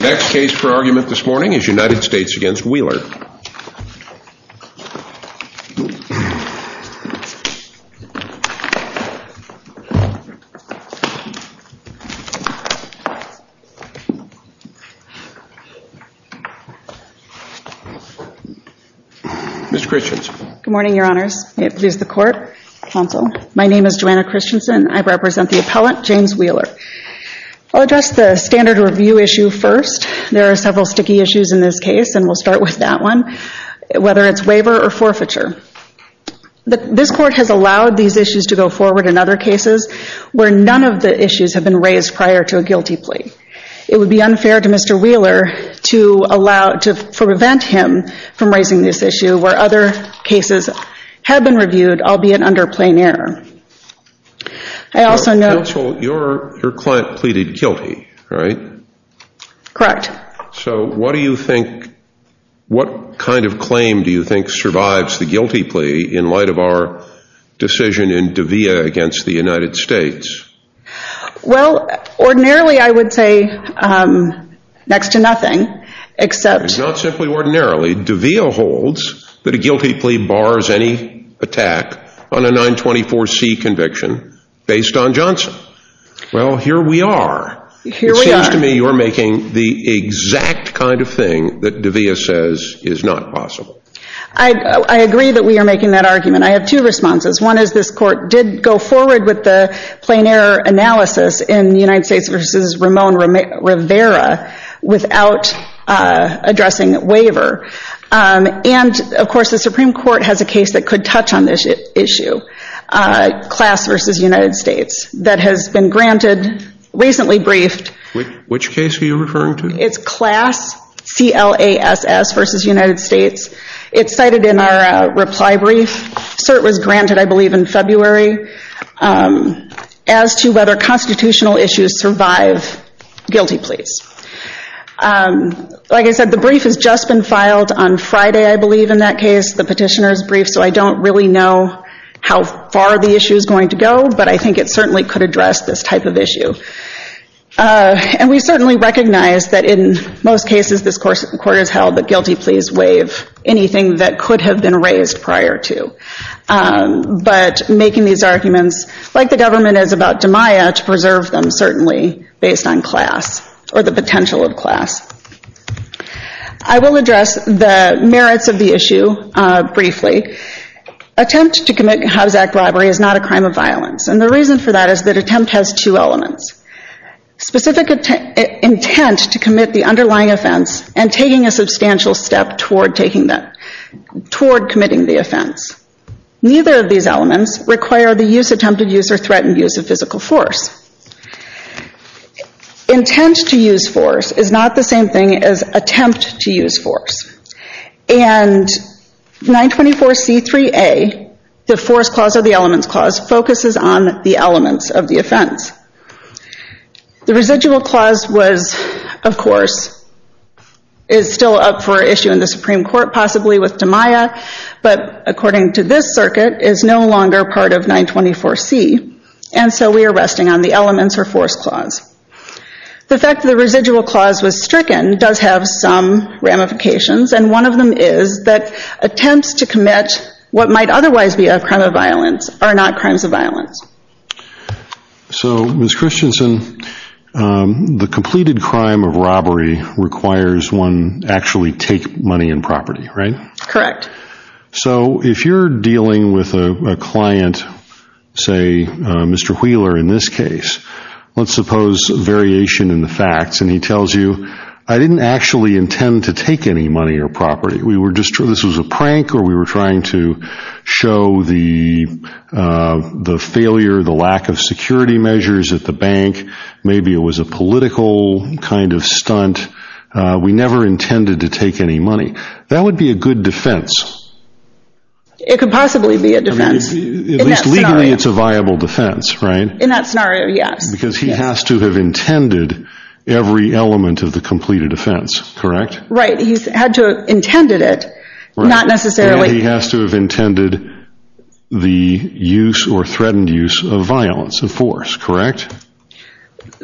Next case for argument this morning is United States v. Wheeler. Ms. Christensen. Good morning, your honors. May it please the court, counsel. My name is Joanna Christensen. I represent the appellant, James Wheeler. I'll address the standard review issue first. There are several sticky issues in this case, and we'll start with that one, whether it's waiver or forfeiture. This court has allowed these issues to go forward in other cases where none of the issues have been raised prior to a guilty plea. It would be unfair to Mr. Wheeler to prevent him from raising this issue where other cases have been reviewed, albeit under plain error. Counsel, your client pleaded guilty, right? Correct. So what do you think, what kind of claim do you think survives the guilty plea in light of our decision in De'Vea against the United States? Well, ordinarily, I would say next to nothing, except... Well, here we are. It seems to me you're making the exact kind of thing that De'Vea says is not possible. I agree that we are making that argument. I have two responses. One is this court did go forward with the plain error analysis in the United States v. Ramon Rivera without addressing waiver. And, of course, the Supreme Court has a case that could touch on this issue, Class v. United States, that has been granted, recently briefed... Which case are you referring to? It's Class, C-L-A-S-S v. United States. It's cited in our reply brief. CERT was granted, I believe, in February, as to whether constitutional issues survive guilty pleas. Like I said, the brief has just been filed on Friday, I believe, in that case, the petitioner's brief, so I don't really know how far the issue is going to go, but I think it certainly could address this type of issue. And we certainly recognize that in most cases this court has held that guilty pleas waive anything that could have been raised prior to. But making these arguments, like the government is about De'Maia, to preserve them, certainly, based on Class, or the potential of Class. I will address the merits of the issue, briefly. Attempt to commit a Hobbs Act robbery is not a crime of violence, and the reason for that is that attempt has two elements. Specific intent to commit the underlying offense, and taking a substantial step toward committing the offense. Neither of these elements require the use, attempted use, or threatened use of physical force. Intent to use force is not the same thing as attempt to use force. And 924C3A, the force clause or the elements clause, focuses on the elements of the offense. The residual clause was, of course, is still up for issue in the Supreme Court, possibly with De'Maia, but according to this circuit, is no longer part of 924C. And so we are resting on the elements or force clause. The fact that the residual clause was stricken does have some ramifications, and one of them is that attempts to commit what might otherwise be a crime of violence are not crimes of violence. So Ms. Christensen, the completed crime of robbery requires one actually take money and property, right? Correct. So if you're dealing with a client, say Mr. Wheeler in this case, let's suppose variation in the facts, and he tells you, I didn't actually intend to take any money or property. This was a prank, or we were trying to show the failure, the lack of security measures at the bank. Maybe it was a political kind of stunt. We never intended to take any money. That would be a good defense. It could possibly be a defense. At least legally it's a viable defense, right? In that scenario, yes. Because he has to have intended every element of the completed offense, correct? Right. He had to have intended it, not necessarily... He has to have intended the use or threatened use of violence, of force, correct?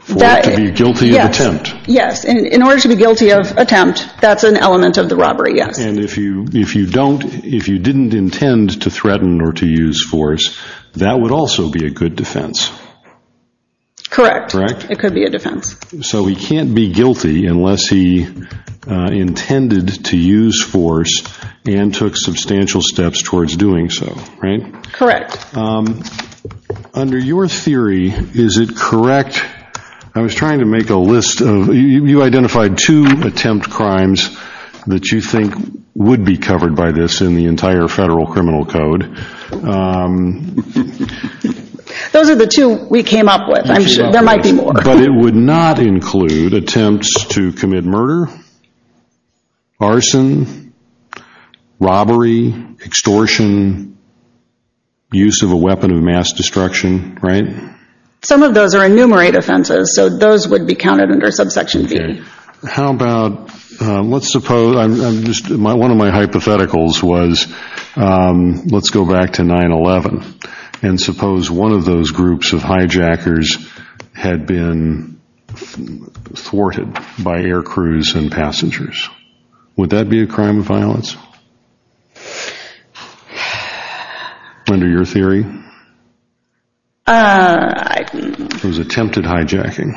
For it to be guilty of attempt. Yes. In order to be guilty of attempt, that's an element of the robbery, yes. And if you didn't intend to threaten or to use force, that would also be a good defense. Correct. It could be a defense. So he can't be guilty unless he intended to use force and took substantial steps towards doing so, right? Correct. Under your theory, is it correct... I was trying to make a list of... You identified two attempt crimes that you think would be covered by this in the entire Federal Criminal Code. Those are the two we came up with. I'm sure there might be more. But it would not include attempts to commit murder, arson, robbery, extortion, use of a weapon of mass destruction, right? Some of those are enumerated offenses, so those would be counted under subsection B. How about... Let's suppose... One of my hypotheticals was, let's go back to 9-11, and suppose one of those groups of hijackers had been thwarted by air crews and passengers. Would that be a crime of violence? Under your theory? It was attempted hijacking.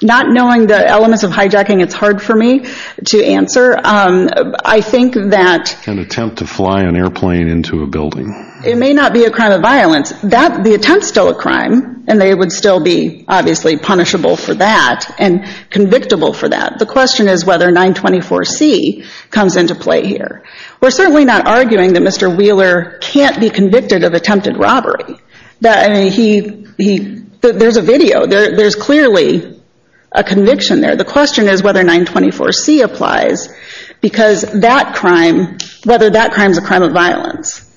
Not knowing the elements of hijacking, it's hard for me to answer. I think that... An attempt to fly an airplane into a building. It may not be a crime of violence. The attempt is still a crime, and they would still be obviously punishable for that and convictable for that. The question is whether 924C comes into play here. We're certainly not arguing that Mr. Wheeler can't be convicted of attempted robbery. There's a video. There's clearly a conviction there. The question is whether 924C applies, because that crime, whether that crime is a crime of violence.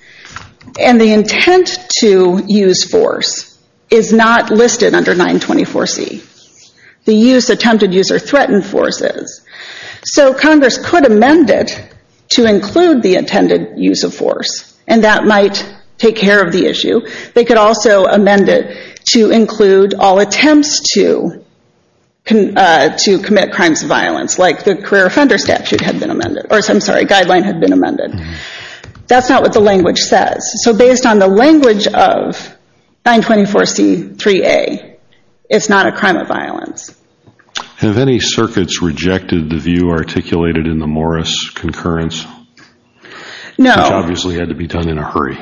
The intent to use force is not listed under 924C. The use, attempted use, or threatened force is. So Congress could amend it to include the intended use of force, and that might take care of the issue. They could also amend it to include all attempts to commit crimes of violence, like the Career Offender Statute had been amended, or I'm sorry, Guideline had been amended. That's not what the language says. So based on the language of 924C3A, it's not a crime of violence. Have any circuits rejected the view articulated in the Morris concurrence? No. Which obviously had to be done in a hurry.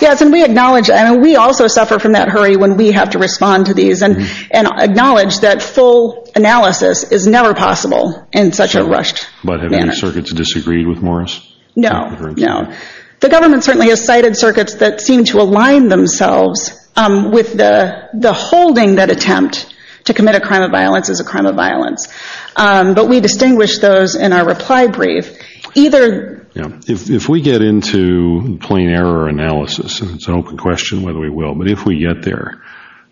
Yes, and we acknowledge, and we also suffer from that hurry when we have to respond to these and acknowledge that full analysis is never possible in such a rushed manner. But have any circuits disagreed with Morris? No. No. The government certainly has cited circuits that seem to align themselves with the holding that attempt to commit a crime of violence is a crime of violence. But we distinguish those in our reply brief. If we get into plain error analysis, and it's an open question whether we will, but if we get there,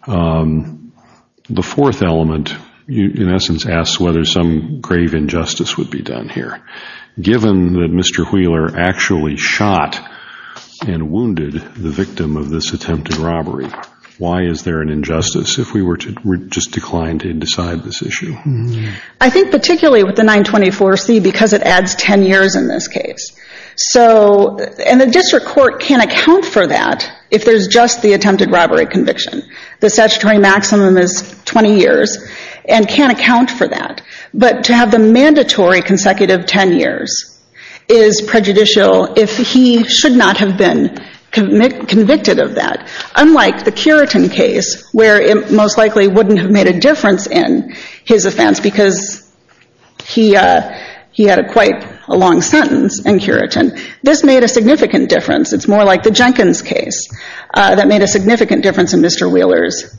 the fourth element in essence asks whether some grave injustice would be done here. Given that Mr. Wheeler actually shot and wounded the victim of this attempted robbery, why is there an injustice if we were to just decline to decide this issue? I think particularly with the 924C, because it adds 10 years in this case. And the district court can't account for that if there's just the attempted robbery conviction. The statutory maximum is 20 years, and can't account for that. But to have the mandatory consecutive 10 years is prejudicial if he should not have been convicted of that. Unlike the Curitin case, where it most likely wouldn't have made a difference in his offense because he had quite a long sentence in Curitin. This made a significant difference. It's more like the Jenkins case that made a significant difference in Mr. Wheeler's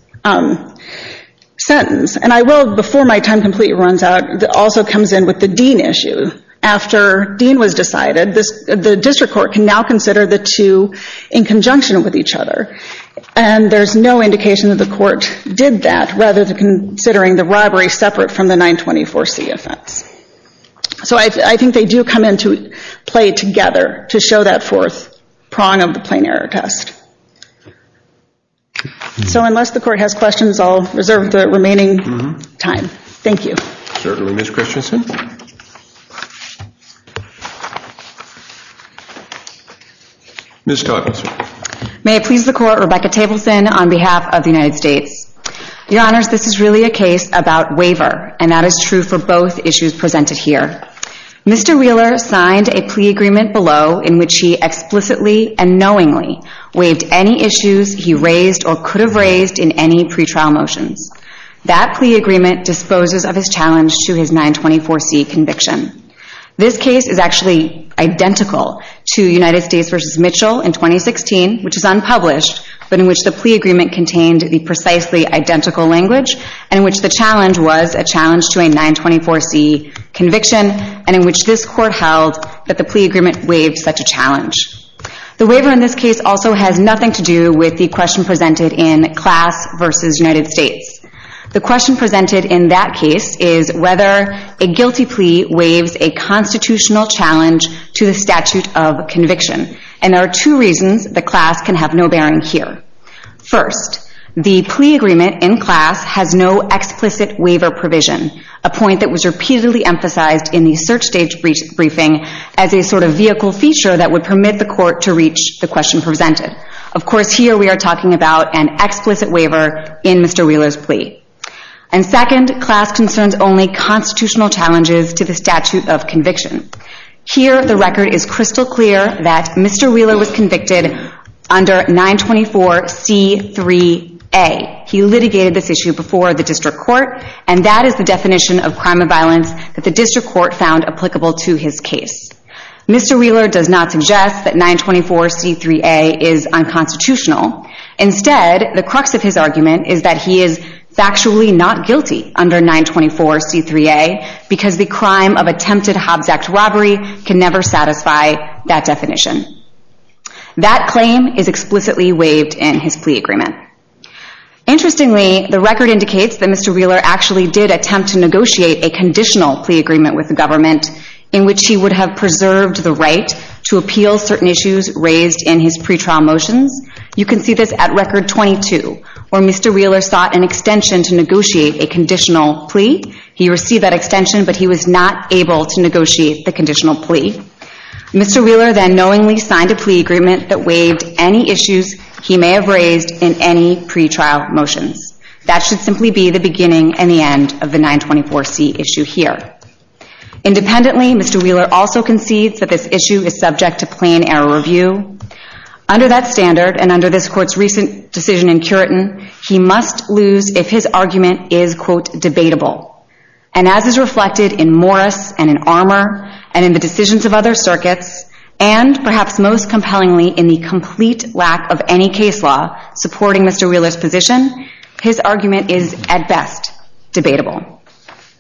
sentence. And I will, before my time completely runs out, also comes in with the Dean issue. After Dean was decided, the district court can now consider the two in conjunction with each other. And there's no indication that the court did that, rather than considering the robbery separate from the 924C offense. So I think they do come into play together to show that fourth prong of the plain error test. So unless the court has questions, I'll reserve the remaining time. Thank you. Certainly, Ms. Christensen. Ms. Todd. May it please the court, Rebecca Tableson on behalf of the United States. Your Honors, this is really a case about waiver, and that is true for both issues presented here. Mr. Wheeler signed a plea agreement below in which he explicitly and knowingly waived any issues he raised or could have raised in any pretrial motions. That plea agreement disposes of his challenge to his 924C conviction. This case is actually identical to United States v. Mitchell in 2016, which is unpublished, but in which the plea agreement contained the precisely identical language, and in which the challenge was a challenge to a 924C conviction, and in which this court held that the plea agreement waived such a challenge. The waiver in this case also has nothing to do with the question presented in class v. United States. The question presented in that case is whether a guilty plea waives a constitutional challenge to the statute of conviction, and there are two reasons the class can have no bearing here. First, the plea agreement in class has no explicit waiver provision, a point that was repeatedly emphasized in the search stage briefing as a sort of vehicle feature that would permit the court to reach the question presented. Of course, here we are talking about an explicit waiver in Mr. Wheeler's plea. And second, class concerns only constitutional challenges to the statute of conviction. Here, the record is crystal clear that Mr. Wheeler was convicted under 924C3A. He litigated this issue before the district court, and that is the definition of crime and violence that the district court found applicable to his case. Instead, the crux of his argument is that he is factually not guilty under 924C3A because the crime of attempted Hobbs Act robbery can never satisfy that definition. That claim is explicitly waived in his plea agreement. Interestingly, the record indicates that Mr. Wheeler actually did attempt to negotiate a conditional plea agreement with the government in which he would have preserved the right to appeal certain issues raised in his pretrial motions. You can see this at record 22, where Mr. Wheeler sought an extension to negotiate a conditional plea. He received that extension, but he was not able to negotiate the conditional plea. Mr. Wheeler then knowingly signed a plea agreement that waived any issues he may have raised in any pretrial motions. That should simply be the beginning and the end of the 924C issue here. Independently, Mr. Wheeler also concedes that this issue is subject to plain error review. Under that standard and under this court's recent decision in Curitin, he must lose if his argument is, quote, debatable. And as is reflected in Morris and in Armour and in the decisions of other circuits, and perhaps most compellingly in the complete lack of any case law supporting Mr. Wheeler's position, his argument is at best debatable.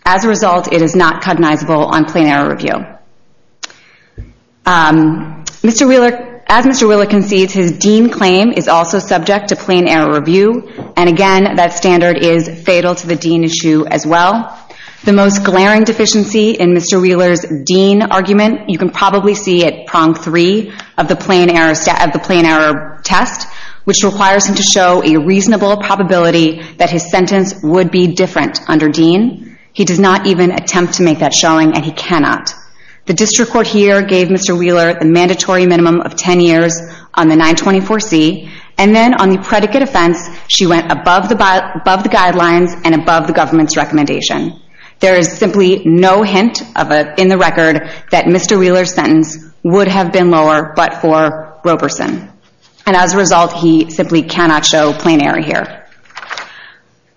As a result, it is not cognizable on plain error review. Mr. Wheeler, as Mr. Wheeler concedes, his Dean claim is also subject to plain error review. And again, that standard is fatal to the Dean issue as well. The most glaring deficiency in Mr. Wheeler's Dean argument, you can probably see at prong three of the plain error test, which requires him to show a reasonable probability that his sentence would be different under Dean. He does not even attempt to make that showing and he cannot. The district court here gave Mr. Wheeler a mandatory minimum of 10 years on the 924C and then on the predicate offense, she went above the guidelines and above the government's recommendation. There is simply no hint in the record that Mr. Wheeler's sentence would have been lower but for Roberson. And as a result, he simply cannot show plain error here.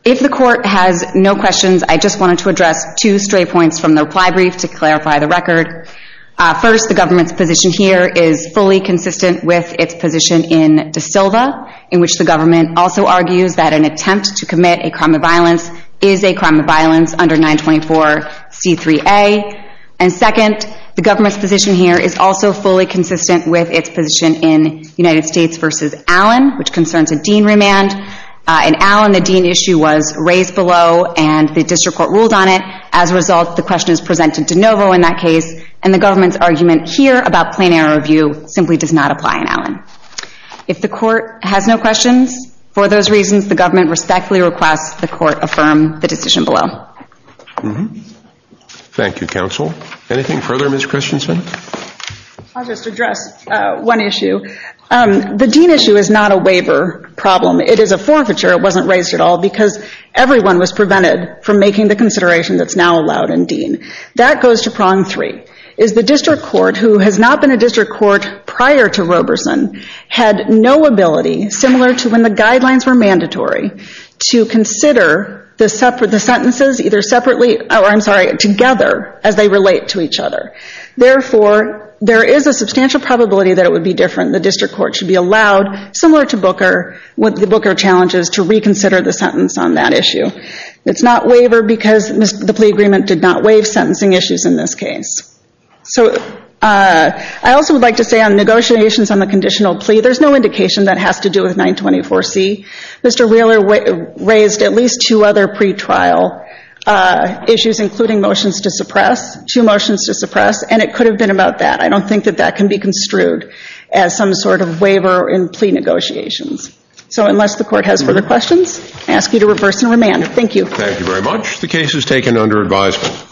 If the court has no questions, I just wanted to address two stray points from the fly brief to clarify the record. First, the government's position here is fully consistent with its position in De Silva, in which the government also argues that an attempt to commit a crime of violence is a crime of violence under 924C3A. And second, the government's position here is also fully consistent with its position in United States v. Allen, which concerns a Dean remand. In Allen, the Dean issue was raised below and the district court ruled on it. As a result, the question is presented to Novo in that case and the government's argument here about plain error review simply does not apply in Allen. If the court has no questions, for those reasons, the government respectfully requests the court affirm the decision below. Thank you, counsel. Anything further, Ms. Christensen? I'll just address one issue. The Dean issue is not a waiver problem. It is a forfeiture. It wasn't raised at all because everyone was prevented from making the consideration that's now allowed in Dean. That goes to prong three. The district court, who has not been a district court prior to Roberson, had no ability, similar to when the guidelines were mandatory, to consider the sentences together as they relate to each other. Therefore, there is a substantial probability that it would be different. The district court should be allowed, similar to Booker, with the Booker challenges, to reconsider the sentence on that issue. It's not waiver because the plea agreement did not waive sentencing issues in this case. I also would like to say on negotiations on the conditional plea, there's no indication that has to do with 924C. Mr. Wheeler raised at least two other pretrial issues, including motions to suppress, two motions to suppress, and it could have been about that. I don't think that can be construed as some sort of waiver in plea negotiations. So unless the court has further questions, I ask you to reverse and remand. Thank you.